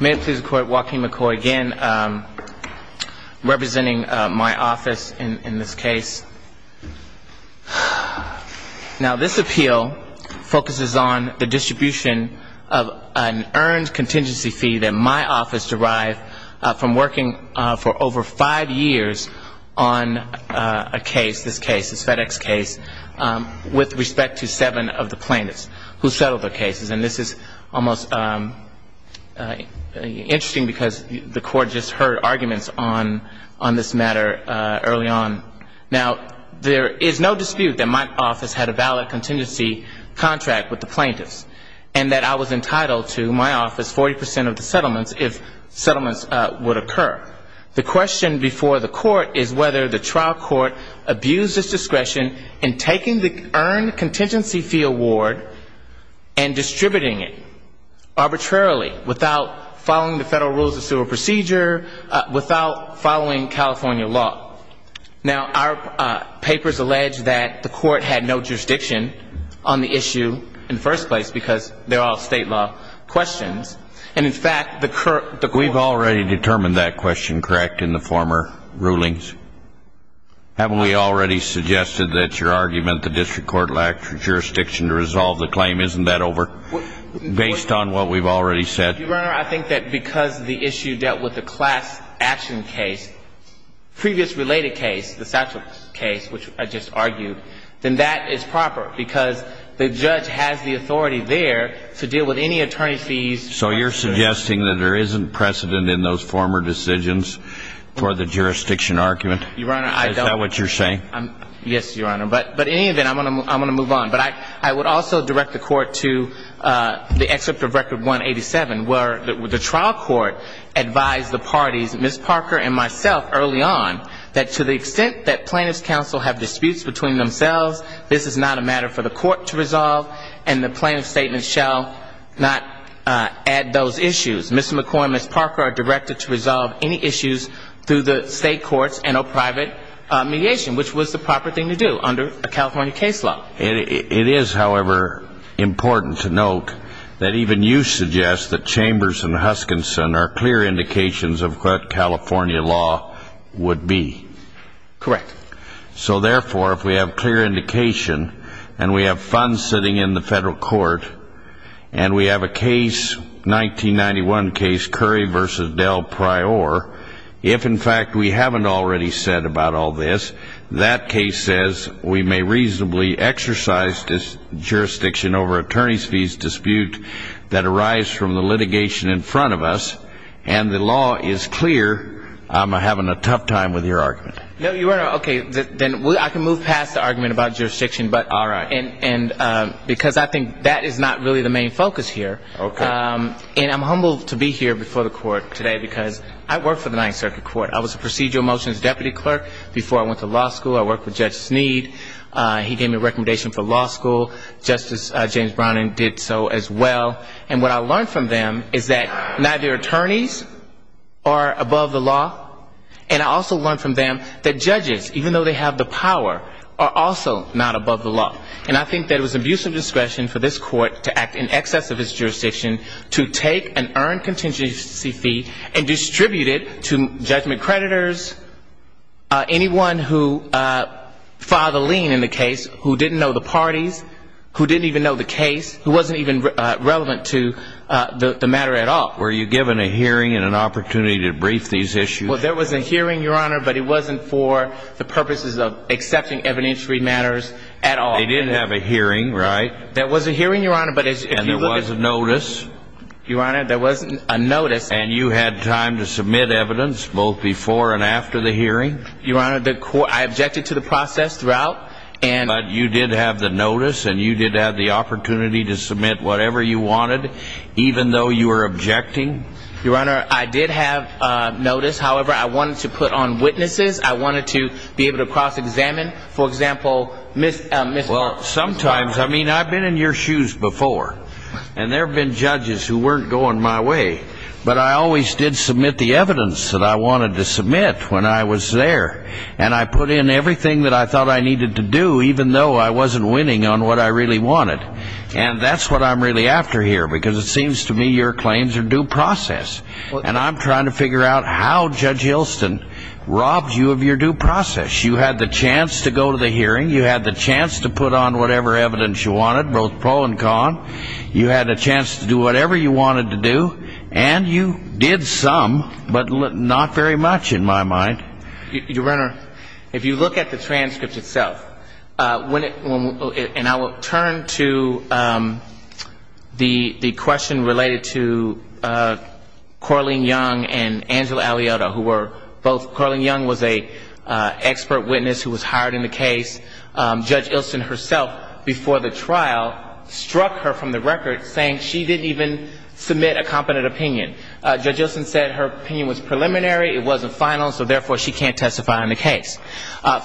May it please the court, Waukeen McCoy again, representing my office in this case. Now this appeal focuses on the distribution of an earned contingency fee that my office derived from working for over five years on a case, this case, this FedEx case, with respect to seven of the plaintiffs who settled their cases. And this is almost interesting because the court just heard arguments on this matter early on. Now there is no dispute that my office had a valid contingency contract with the plaintiffs and that I was entitled to my office 40 percent of the settlements if settlements would occur. The question before the court is whether the trial court abused its discretion in taking the earned contingency fee award and distributing it arbitrarily, without following the federal rules of civil procedure, without following California law. Now, our papers allege that the court had no jurisdiction on the issue in the first place because they're all state law questions. And in fact, the court ---- We've already determined that question correct in the former rulings. Haven't we already suggested that your argument the district court lacked jurisdiction to resolve the claim? Isn't that over? Based on what we've already said. Your Honor, I think that because the issue dealt with the class action case, previous related case, the Satchel case, which I just argued, then that is proper. Because the judge has the authority there to deal with any attorney fees. So you're suggesting that there isn't precedent in those former decisions for the jurisdiction argument? Your Honor, I don't. Is that what you're saying? Yes, Your Honor. But in any event, I'm going to move on. But I would also direct the court to the excerpt of Record 187, where the trial court advised the parties, Ms. Parker and myself early on, that to the extent that plaintiffs' counsel have disputes between themselves, this is not a matter for the court to resolve and the plaintiff's statement shall not add those issues. Ms. McCoy and Ms. Parker are directed to resolve any issues through the state courts and or private mediation, which was the proper thing to do under a California case law. It is, however, important to note that even you suggest that Chambers and Huskinson are clear indications of what California law would be. Correct. So, therefore, if we have clear indication and we have funds sitting in the federal court and we have a case, 1991 case, Curry v. Del Prior, if, in fact, we haven't already said about all this, that case says we may reasonably exercise the right to do so. We may exercise jurisdiction over attorney's fees dispute that arrives from the litigation in front of us, and the law is clear, I'm having a tough time with your argument. No, Your Honor, okay, then I can move past the argument about jurisdiction, but because I think that is not really the main focus here. Okay. And I'm humbled to be here before the court today, because I work for the Ninth Circuit Court. I was a procedural motions deputy clerk before I went to law school. I worked with Judge Sneed, he gave me a recommendation for law school, Justice James Browning did so as well, and what I learned from them is that neither attorneys are above the law, and I also learned from them that judges, even though they have the power, are also not above the law. And I think that it was an abuse of discretion for this court to act in excess of its jurisdiction to take an earned contingency fee and distribute it to judgment creditors, anyone who filed a lien in the case, who didn't know the parties, who didn't even know the case, who wasn't even relevant to the matter at all. Were you given a hearing and an opportunity to brief these issues? Well, there was a hearing, Your Honor, but it wasn't for the purposes of accepting evidentiary matters at all. They didn't have a hearing, right? There was a hearing, Your Honor, but if you would have... And there was a notice? Your Honor, there wasn't a notice. And you had time to submit evidence, both before and after the hearing? Your Honor, I objected to the process throughout, and... But you did have the notice and you did have the opportunity to submit whatever you wanted, even though you were objecting? Your Honor, I did have notice, however, I wanted to put on witnesses, I wanted to be able to cross-examine, for example, Ms... Well, sometimes, I mean, I've been in your shoes before, and there have been judges who weren't going my way, but I always did submit the evidence that I wanted to submit when I was there. And I put in everything that I thought I needed to do, even though I wasn't winning on what I really wanted. And that's what I'm really after here, because it seems to me your claims are due process. And I'm trying to figure out how Judge Hylston robbed you of your due process. You had the chance to go to the hearing. You had the chance to put on whatever evidence you wanted, both pro and con. You had a chance to do whatever you wanted to do. And you did some, but not very much, in my mind. Your Honor, if you look at the transcript itself, when it... And I will turn to the question related to Coraline Young and Angela Aliota, who were both... Coraline Young was an expert witness who was hired in the case. Judge Hylston herself, before the trial, struck her from the record, saying she didn't even submit a competent opinion. Judge Hylston said her opinion was preliminary, it wasn't final, so therefore she can't testify on the case.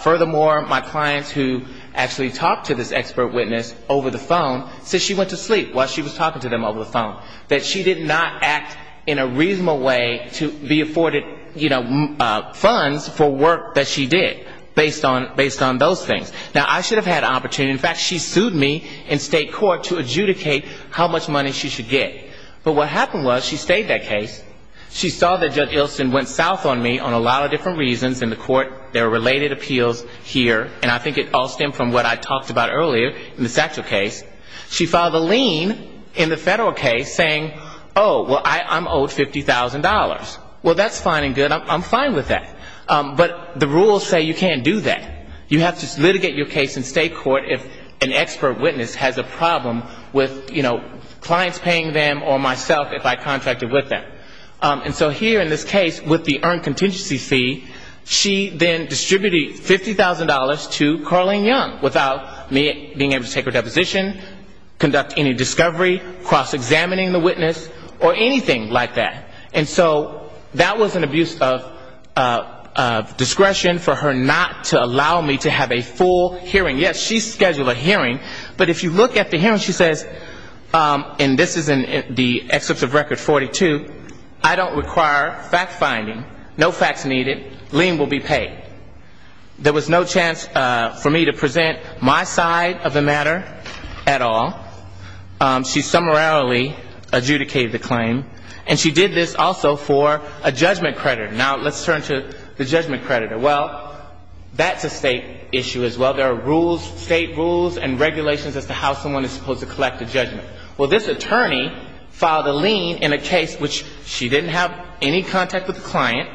Furthermore, my clients who actually talked to this expert witness over the phone said she went to sleep while she was talking to them over the phone, that she did not act in a reasonable way to be afforded, you know, funds for work that she did, based on those things. Now, I should have had an opportunity, in fact, she sued me in state court to adjudicate how much money she should get. But what happened was she stayed that case, she saw that Judge Hylston went south on me on a lot of different reasons in the court, there were related appeals here, and I think it all stemmed from what I talked about earlier in the Satchel case. She filed a lien in the federal case saying, oh, well, I'm owed $50,000. Well, that's fine and good, I'm fine with that. But the rules say you can't do that. You have to litigate your case in state court if an expert witness has a problem with, you know, clients paying them or myself if I contracted with them. And so here in this case, with the earned contingency fee, she then distributed $50,000 to Carlene Young, without me being able to take her deposition, conduct any discovery, cross-examining the witness, or anything like that. And so that was an abuse of discretion for her not to allow me to have a full hearing. Yes, she scheduled a hearing, but if you look at the hearing, she says, and this is in the excerpts of record 42, I don't require fact-finding, no facts needed, lien will be paid. There was no chance for me to present my side of the matter at all. She summarily adjudicated the claim. And she did this also for a judgment creditor. Now let's turn to the judgment creditor. Well, that's a state issue as well. There are rules, state rules and regulations as to how someone is supposed to collect a judgment. Well, this attorney filed a lien in a case which she didn't have any contact with the client.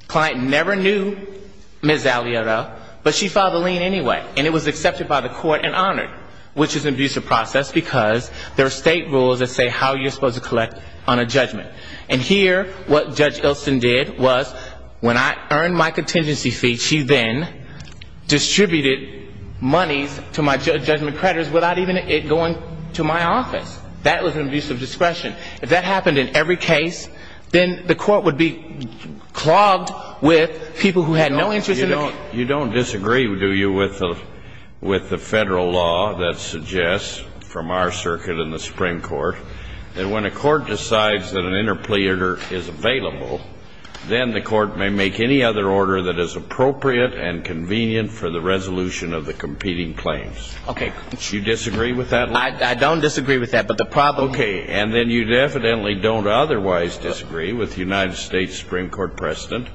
The client never knew Ms. Aguilera, but she filed a lien anyway. And it was accepted by the court and honored, which is an abusive process, because there are state rules that say how you're supposed to collect on a judgment. And here what Judge Ilsen did was when I earned my contingency fee, she then distributed monies to my judgment creditors without even it going to my office. That was an abuse of discretion. If that happened in every case, then the court would be clogged with people who had no interest in the case. You don't disagree, do you, with the Federal law that suggests from our circuit and the Supreme Court that when a court decides that an interplea order is available, then the court may make any other order that is appropriate and convenient for the judge to make. I don't disagree with that. Okay. And then you definitely don't otherwise disagree with the United States Supreme Court precedent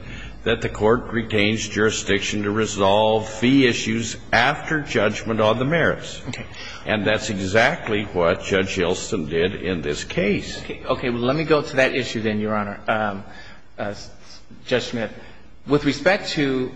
that the court retains jurisdiction to resolve fee issues after judgment on the merits. Okay. And that's exactly what Judge Ilsen did in this case. Okay. Well, let me go to that issue then, Your Honor, Judge Smith. With respect to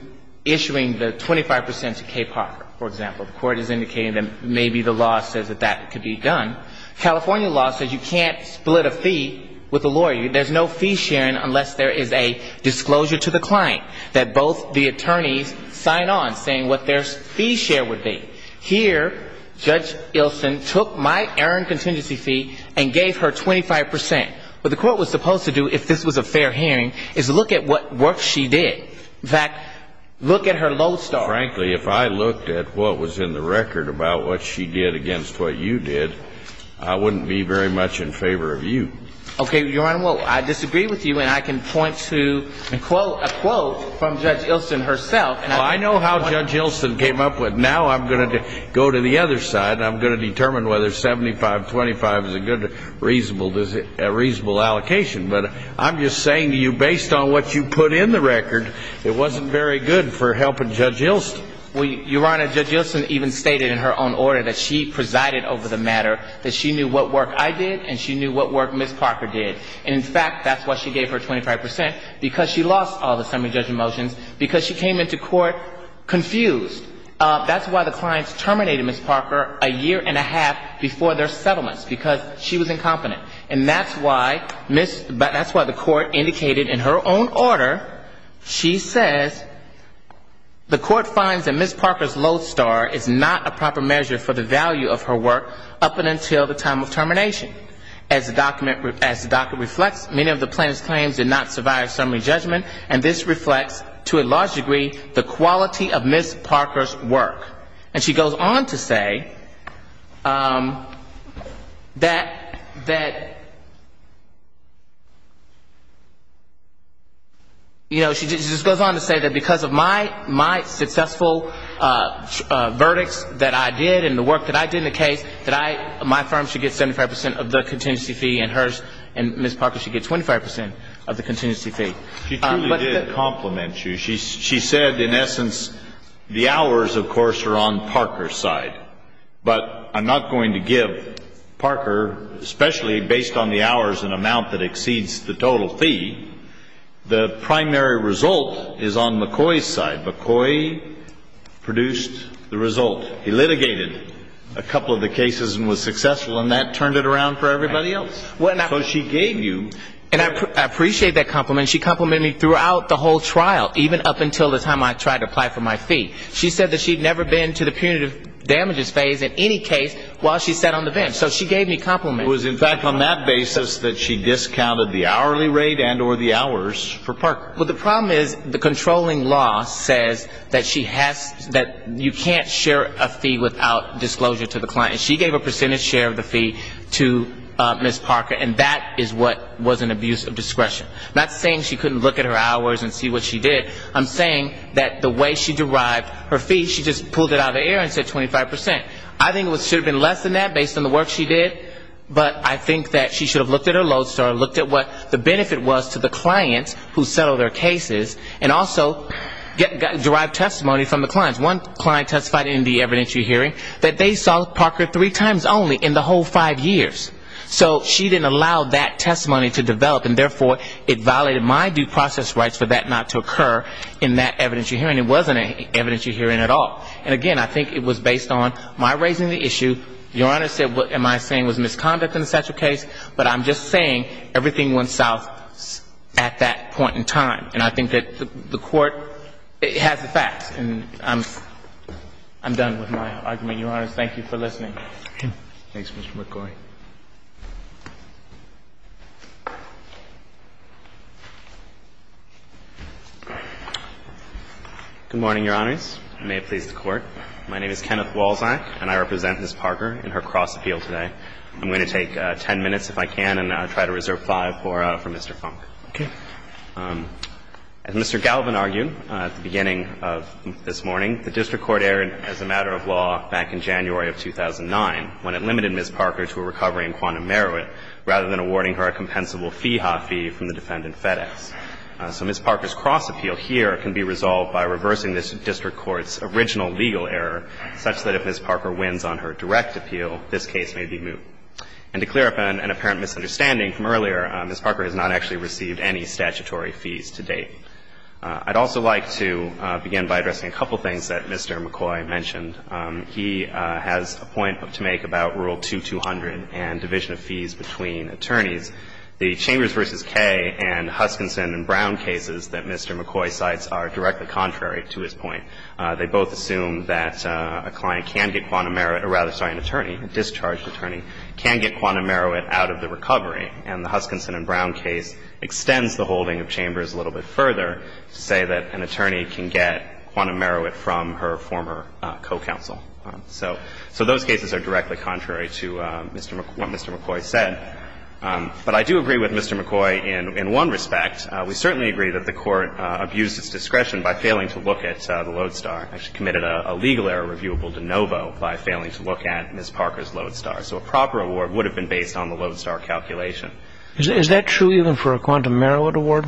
issuing the 25 percent to Cape Harbor, for example, the court is indicating that maybe the law says that that could be done. California law says you can't split a fee with a lawyer. There's no fee sharing unless there is a disclosure to the client that both the attorneys sign on saying what their fee share would be. Here, Judge Ilsen took my errant contingency fee and gave her 25 percent. What the court was supposed to do, if this was a fair hearing, is look at what work she did. In fact, look at her lodestar. Frankly, if I looked at what was in the record about what she did against what you did, I wouldn't be very much in favor of you. Okay, Your Honor, well, I disagree with you, and I can point to a quote from Judge Ilsen herself. Well, I know how Judge Ilsen came up with, now I'm going to go to the other side, and I'm going to determine whether 75-25 is a good, reasonable allocation. But I'm just saying to you, based on what you put in the record, it wasn't very good for helping Judge Ilsen. Well, Your Honor, Judge Ilsen even stated in her own order that she presided over the matter, that she knew what work I did, and she knew what work Ms. Parker did. And, in fact, that's why she gave her 25 percent, because she lost all the summary judgment motions, because she came into court confused. That's why the clients terminated Ms. Parker a year and a half before their settlements, because she was incompetent. And that's why the court indicated in her own order, she says, the court finds that Ms. Parker's lodestar is not a proper measure for the value of her work up until the time of termination, as the document reflects, many of the plaintiff's claims did not survive summary judgment, and this reflects, to a large degree, the quality of Ms. Parker's work. And she goes on to say that, you know, she just goes on to say that because of my successful verdicts that I did, and the work that I did in the case, that my firm should get 75 percent of the contingency fee, and hers and Ms. Parker should get 25 percent of the contingency fee. She truly did compliment you. She said, in essence, the hours, of course, are on Parker's side. But I'm not going to give Parker, especially based on the hours and amount that exceeds the total fee, the primary result is on McCoy's side. McCoy produced the result. He litigated a couple of the cases and was successful, and that turned it around for everybody else. So she gave you. And I appreciate that compliment. She complimented me throughout the whole trial, even up until the time I tried to apply for my fee. She said that she'd never been to the punitive damages phase in any case while she sat on the bench. So she gave me compliments. It was in fact on that basis that she discounted the hourly rate and or the hours for Parker. Well, the problem is the controlling law says that you can't share a fee without disclosure to the client. She gave a percentage share of the fee to Ms. Parker, and that is what was an abuse of discretion. I'm not saying she couldn't look at her hours and see what she did. I'm saying that the way she derived her fee, she just pulled it out of the air and said 25%. I think it should have been less than that based on the work she did, but I think that she should have looked at her load store, looked at what the benefit was to the clients who settled their cases, and also derived testimony from the clients. One client testified in the evidentiary hearing that they saw Parker three times only in the whole five years. So she didn't allow that testimony to develop, and therefore, it violated my due process rights for that not to occur in that evidentiary hearing. It wasn't an evidentiary hearing at all. And again, I think it was based on my raising the issue. Your Honor said what am I saying was misconduct in the Satchel case, but I'm just saying everything went south at that point in time. And I think that the Court has the facts, and I'm done with my argument. Your Honors, thank you for listening. Thanks, Mr. McCoy. Good morning, Your Honors. May it please the Court. My name is Kenneth Walczak, and I represent Ms. Parker in her cross appeal today. I'm going to take 10 minutes, if I can, and try to reserve five for Mr. Funk. As Mr. Galvin argued at the beginning of this morning, the district court erred as a matter of law back in January of 2009 when it limited Ms. Parker to a recovery in quantum meruit rather than awarding her a compensable fee hot fee from the defendant FedEx. So Ms. Parker's cross appeal here can be resolved by reversing this district court's original legal error such that if Ms. Parker wins on her direct appeal, this case may be moot. And to clear up an apparent misunderstanding from earlier, Ms. Parker has not actually received any statutory fees to date. I'd also like to begin by addressing a couple of things that Mr. McCoy mentioned. He has a point to make about Rule 2200 and division of fees between attorneys. The Chambers v. K and Huskinson and Brown cases that Mr. McCoy cites are directly contrary to his point. They both assume that a client can get quantum meruit or rather, sorry, an attorney, a discharged attorney, can get quantum meruit out of the recovery. And the Huskinson and Brown case extends the holding of Chambers a little bit further to say that an attorney can get quantum meruit from her former co-counsel. So those cases are directly contrary to what Mr. McCoy said. But I do agree with Mr. McCoy in one respect. We certainly agree that the Court abused its discretion by failing to look at the lodestar, actually committed a legal error reviewable de novo by failing to look at Ms. Parker's lodestar. So a proper award would have been based on the lodestar calculation. Is that true even for a quantum meruit award?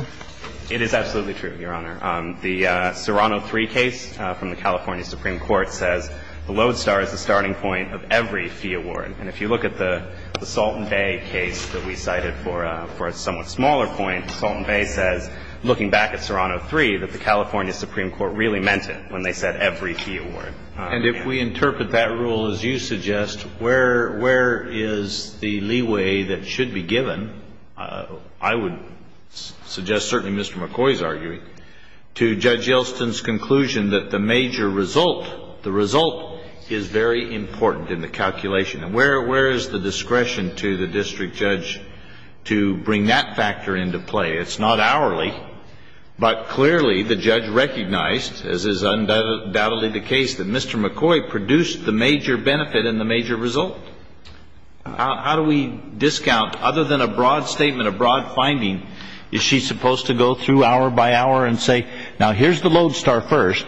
It is absolutely true, Your Honor. The Serrano 3 case from the California Supreme Court says the lodestar is the starting point of every fee award. And if you look at the Salton Bay case that we cited for a somewhat smaller point, Salton Bay says, looking back at Serrano 3, that the California Supreme Court really meant it when they said every fee award. And if we interpret that rule as you suggest, where is the leeway that should be given, I would suggest certainly Mr. McCoy's arguing, to Judge Elston's conclusion that the major result, the result is very important in the calculation. And where is the discretion to the district judge to bring that factor into play? It's not hourly. But clearly the judge recognized, as is undoubtedly the case, that Mr. McCoy produced the major benefit and the major result. How do we discount, other than a broad statement, a broad finding, is she supposed to go through hour by hour and say, now, here's the lodestar first,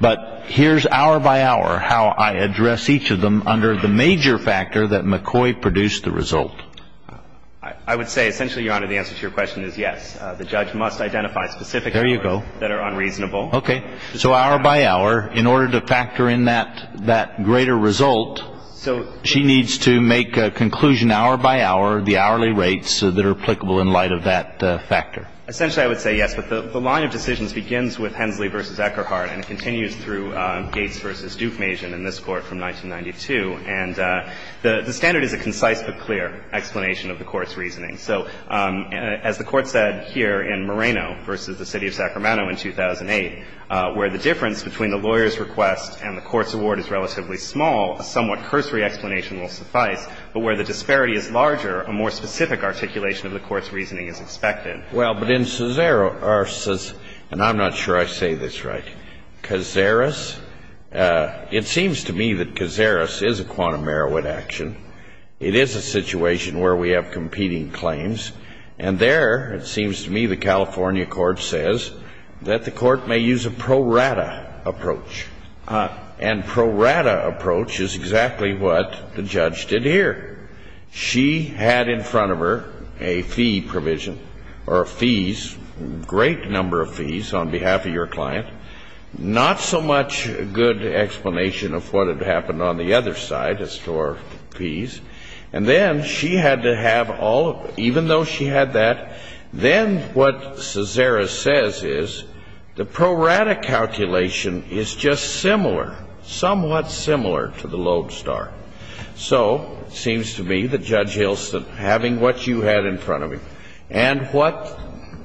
but here's hour by hour how I address each of them under the major factor that McCoy produced the result? I would say essentially, Your Honor, the answer to your question is yes. The judge must identify specific factors that are unreasonable. There you go. Okay. So hour by hour, in order to factor in that greater result, she needs to make a conclusion hour by hour, the hourly rates that are applicable in light of that factor. Essentially, I would say yes. But the line of decisions begins with Hensley v. Eckerhart and continues through Gates v. Duke Mason in this Court from 1992. And the standard is a concise but clear explanation of the Court's reasoning. So as the Court said here in Moreno v. The City of Sacramento in 2008, where the difference between the lawyer's request and the Court's award is relatively small, a somewhat cursory explanation will suffice. But where the disparity is larger, a more specific articulation of the Court's reasoning is expected. Well, but in Cesaro, and I'm not sure I say this right, Cazares, it seems to me that Cazares is a quantum Merowit action. It is a situation where we have competing claims. And there, it seems to me, the California Court says that the Court may use a pro rata approach. And pro rata approach is exactly what the judge did here. She had in front of her a fee provision, or fees, great number of fees on behalf of your client, not so much a good explanation of what had happened on the other side as to our fees. And then she had to have all of it, even though she had that. Then what Cazares says is the pro rata calculation is just similar, somewhat similar to the lodestar. So it seems to me that Judge Hilston, having what you had in front of him and what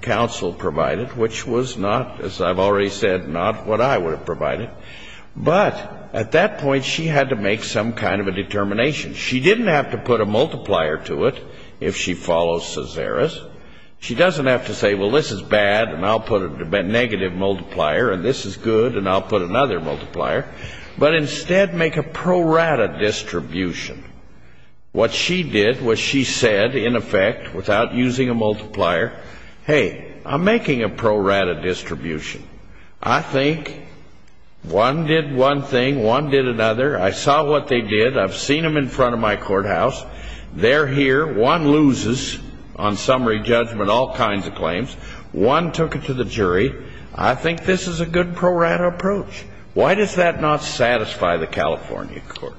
counsel provided, which was not, as I've already said, not what I would have provided, but at that point she had to make some kind of a determination. She didn't have to put a multiplier to it if she follows Cazares. She doesn't have to say, well, this is bad, and I'll put a negative multiplier, and this is good, and I'll put another multiplier, but instead make a pro rata distribution. What she did, what she said, in effect, without using a multiplier, hey, I'm making a pro rata distribution. I think one did one thing, one did another. I saw what they did. I've seen them in front of my courthouse. They're here. One loses on summary judgment, all kinds of claims. One took it to the jury. I think this is a good pro rata approach. Why does that not satisfy the California court?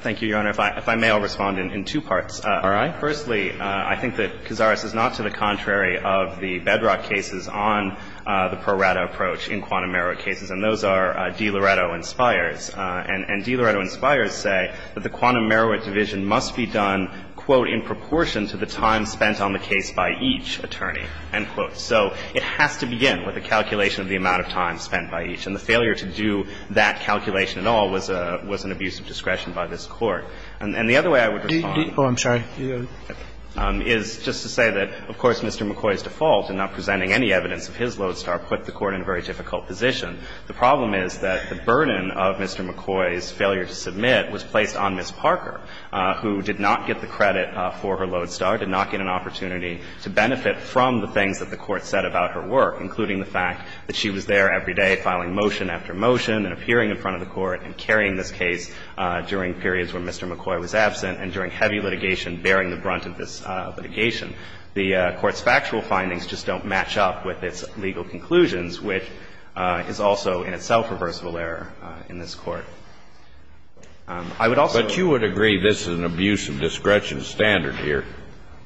Thank you, Your Honor. If I may, I'll respond in two parts. All right. Firstly, I think that Cazares is not to the contrary of the bedrock cases on the pro rata approach in quantum merit cases, and those are DiLoretto and Spires. And DiLoretto and Spires say that the quantum merit division must be done, quote, in proportion to the time spent on the case by each attorney, end quote. So it has to begin with a calculation of the amount of time spent by each, and the failure to do that calculation at all was an abuse of discretion by this Court. And the other way I would respond is just to say that, of course, Mr. McCoy's default in not presenting any evidence of his lodestar put the Court in a very difficult position. The problem is that the burden of Mr. McCoy's failure to submit was placed on Ms. Parker, who did not get the credit for her lodestar, did not get an opportunity to benefit from the things that the Court said about her work, including the fact that she was there every day filing motion after motion and appearing in front of the judge. The Court's factual findings are consistent with the fact that Mr. McCoy was absent and during heavy litigation bearing the brunt of this litigation. The Court's factual findings just don't match up with its legal conclusions, which is also in itself a reversible error in this Court. I would also agree that this is an abuse of discretion standard here.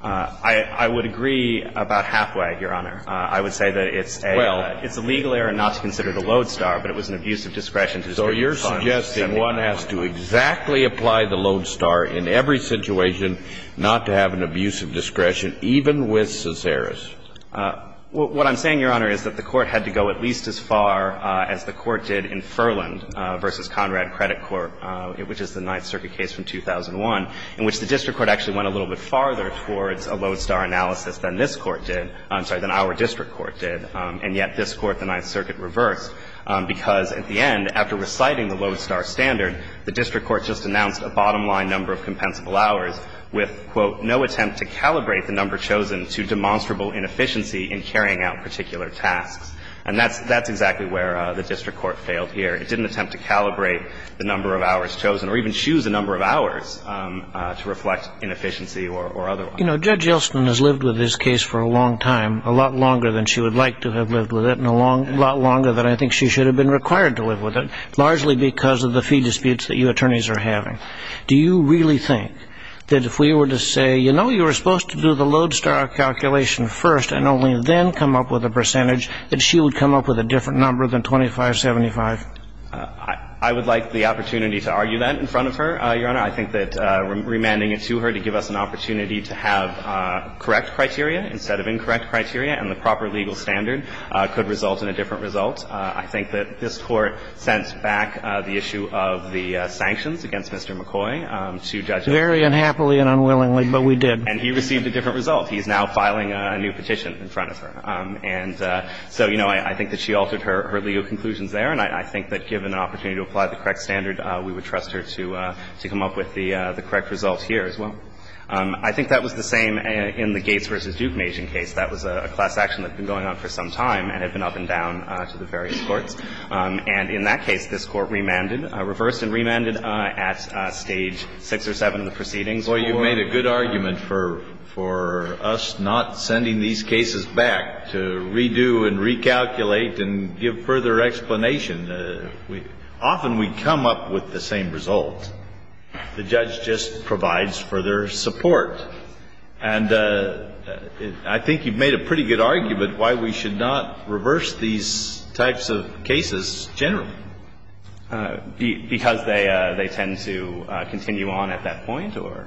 I would agree about Hathaway, Your Honor. I would say that it's a legal error not to consider the lodestar, but it was an abuse of discretion to distribute funds. So you're suggesting one has to exactly apply the lodestar in every situation not to have an abuse of discretion, even with Cesaris? What I'm saying, Your Honor, is that the Court had to go at least as far as the Court did in Furland v. Conrad Credit Court, which is the Ninth Circuit case from 2001, in which the district court actually went a little bit farther towards a lodestar analysis than this Court did, I'm sorry, than our district court did, and yet this Court, the Ninth Circuit, reversed, because at the end, after reciting the lodestar standard, the district court just announced a bottom line number of compensable hours with, quote, no attempt to calibrate the number chosen to demonstrable inefficiency in carrying out particular tasks. And that's exactly where the district court failed here. It didn't attempt to calibrate the number of hours chosen or even choose the number of hours to reflect inefficiency or otherwise. You know, Judge Yeltsin has lived with this case for a long time, a lot longer than she would like to have lived with it and a lot longer than I think she should have been required to live with it, largely because of the fee disputes that you attorneys are having. Do you really think that if we were to say, you know, you were supposed to do the lodestar calculation first and only then come up with a percentage, that she would come up with a different number than 2575? I would like the opportunity to argue that in front of her, Your Honor. I think that remanding it to her to give us an opportunity to have correct criteria instead of incorrect criteria and the proper legal standard could result in a different result. I think that this Court sent back the issue of the sanctions against Mr. McCoy to Judge Yeltsin. Very unhappily and unwillingly, but we did. And he received a different result. He's now filing a new petition in front of her. And so, you know, I think that she altered her legal conclusions there, and I think that given an opportunity to apply the correct standard, we would trust her to come up with the correct result here as well. I think that was the same in the Gates v. Duke Mazin case. That was a class action that had been going on for some time and had been up and down to the various courts. And in that case, this Court remanded, reversed and remanded at Stage 6 or 7 of the proceedings. Well, you made a good argument for us not sending these cases back to redo and recalculate and give further explanation. Often we come up with the same result. The judge just provides further support. And I think you've made a pretty good argument why we should not reverse these types of cases generally. Because they tend to continue on at that point, or?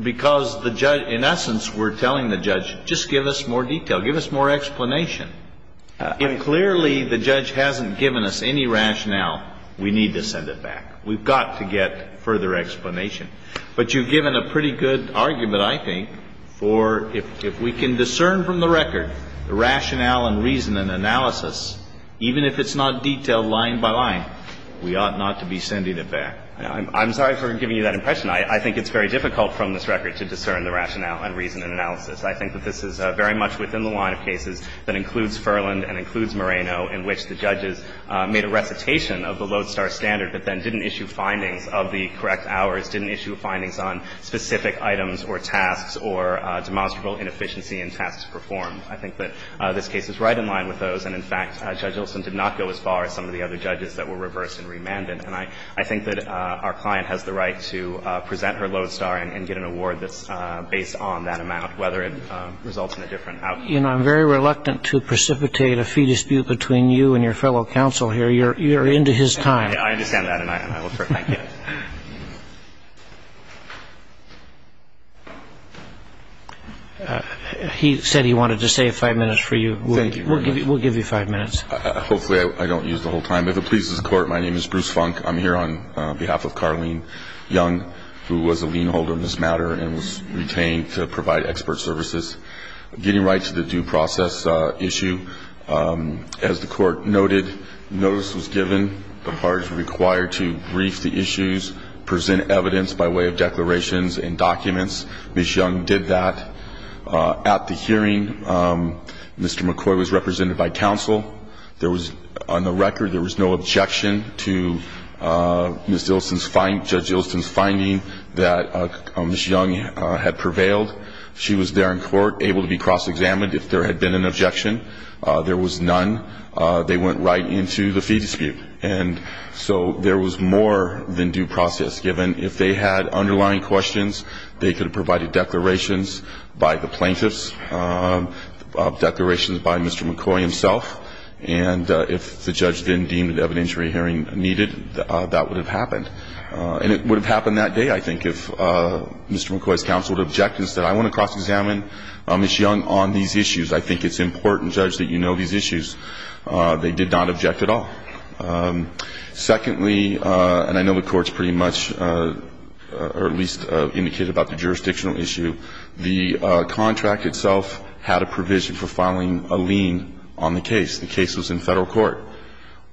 Because the judge, in essence, we're telling the judge, just give us more detail, give us more explanation. If clearly the judge hasn't given us any rationale, we need to send it back. We've got to get further explanation. But you've given a pretty good argument, I think, for if we can discern from the record the rationale and reason and analysis, even if it's not detailed line by line, we ought not to be sending it back. I'm sorry for giving you that impression. I think it's very difficult from this record to discern the rationale and reason and analysis. I think that this is very much within the line of cases that includes Furland and includes Moreno in which the judges made a recitation of the lodestar standard but then didn't issue findings of the correct hours, didn't issue findings on specific items or tasks or demonstrable inefficiency in tasks performed. I think that this case is right in line with those. And, in fact, Judge Olson did not go as far as some of the other judges that were reversed and remanded. And I think that our client has the right to present her lodestar and get an award that's based on that amount, whether it results in a different outcome. You know, I'm very reluctant to precipitate a fee dispute between you and your fellow counsel here. You're into his time. I understand that, and I look forward to it. Thank you. He said he wanted to save five minutes for you. Thank you very much. We'll give you five minutes. Hopefully I don't use the whole time. If it pleases the Court, my name is Bruce Funk. I'm here on behalf of Carlene Young, who was a lien holder in this matter and was retained to provide expert services. Getting right to the due process issue, as the Court noted, notice was given. The parties were required to brief the issues, present evidence by way of declarations and documents. Ms. Young did that. At the hearing, Mr. McCoy was represented by counsel. There was, on the record, there was no objection to Judge Ilson's finding that Ms. Young had prevailed. She was there in court, able to be cross-examined if there had been an objection. There was none. They went right into the fee dispute. And so there was more than due process given. If they had underlying questions, they could have provided declarations by the plaintiffs, declarations by Mr. McCoy himself. And if the judge then deemed an evidentiary hearing needed, that would have happened. And it would have happened that day, I think, if Mr. McCoy's counsel had objected and said, I want to cross-examine Ms. Young on these issues. I think it's important, Judge, that you know these issues. They did not object at all. Secondly, and I know the Court's pretty much, or at least indicated about the jurisdictional issue, the contract itself had a provision for filing a lien on the case. The case was in Federal court.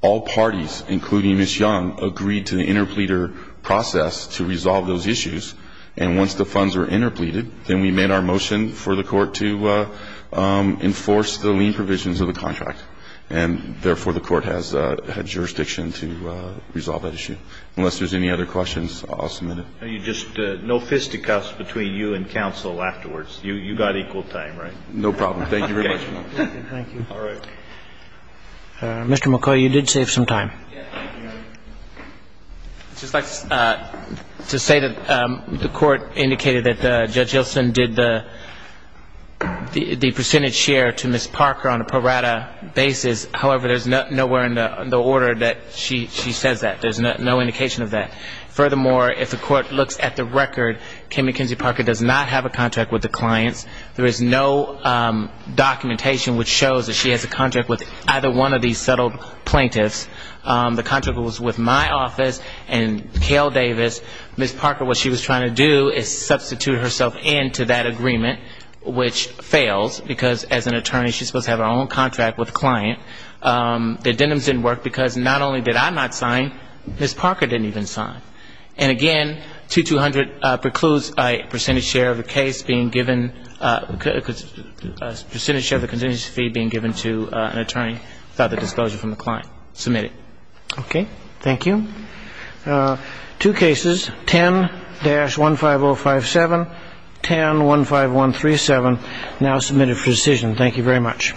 All parties, including Ms. Young, agreed to the interpleader process to resolve those issues. And once the funds were interpleaded, then we made our motion for the Court to enforce the lien provisions of the contract. And, therefore, the Court has jurisdiction to resolve that issue. Unless there's any other questions, I'll submit it. No fisticuffs between you and counsel afterwards. You got equal time, right? No problem. Thank you very much. Thank you. All right. Mr. McCoy, you did save some time. I'd just like to say that the Court indicated that Judge Ilsen did the percentage share to Ms. Parker on a pro rata basis. However, there's nowhere in the order that she says that. There's no indication of that. Furthermore, if the Court looks at the record, Kim McKenzie Parker does not have a contract with the clients. There is no documentation which shows that she has a contract with either one of these settled plaintiffs. The contract was with my office and Kale Davis. Ms. Parker, what she was trying to do is substitute herself into that agreement, which fails, because as an attorney she's supposed to have her own contract with the client. The addendums didn't work because not only did I not sign, Ms. Parker didn't even sign. And, again, 2200 precludes a percentage share of the case being given, a percentage share of the contingency fee being given to an attorney without the disclosure from the client. Submit it. Okay. Thank you. Two cases, 10-15057, 10-15137, now submitted for decision. Thank you very much.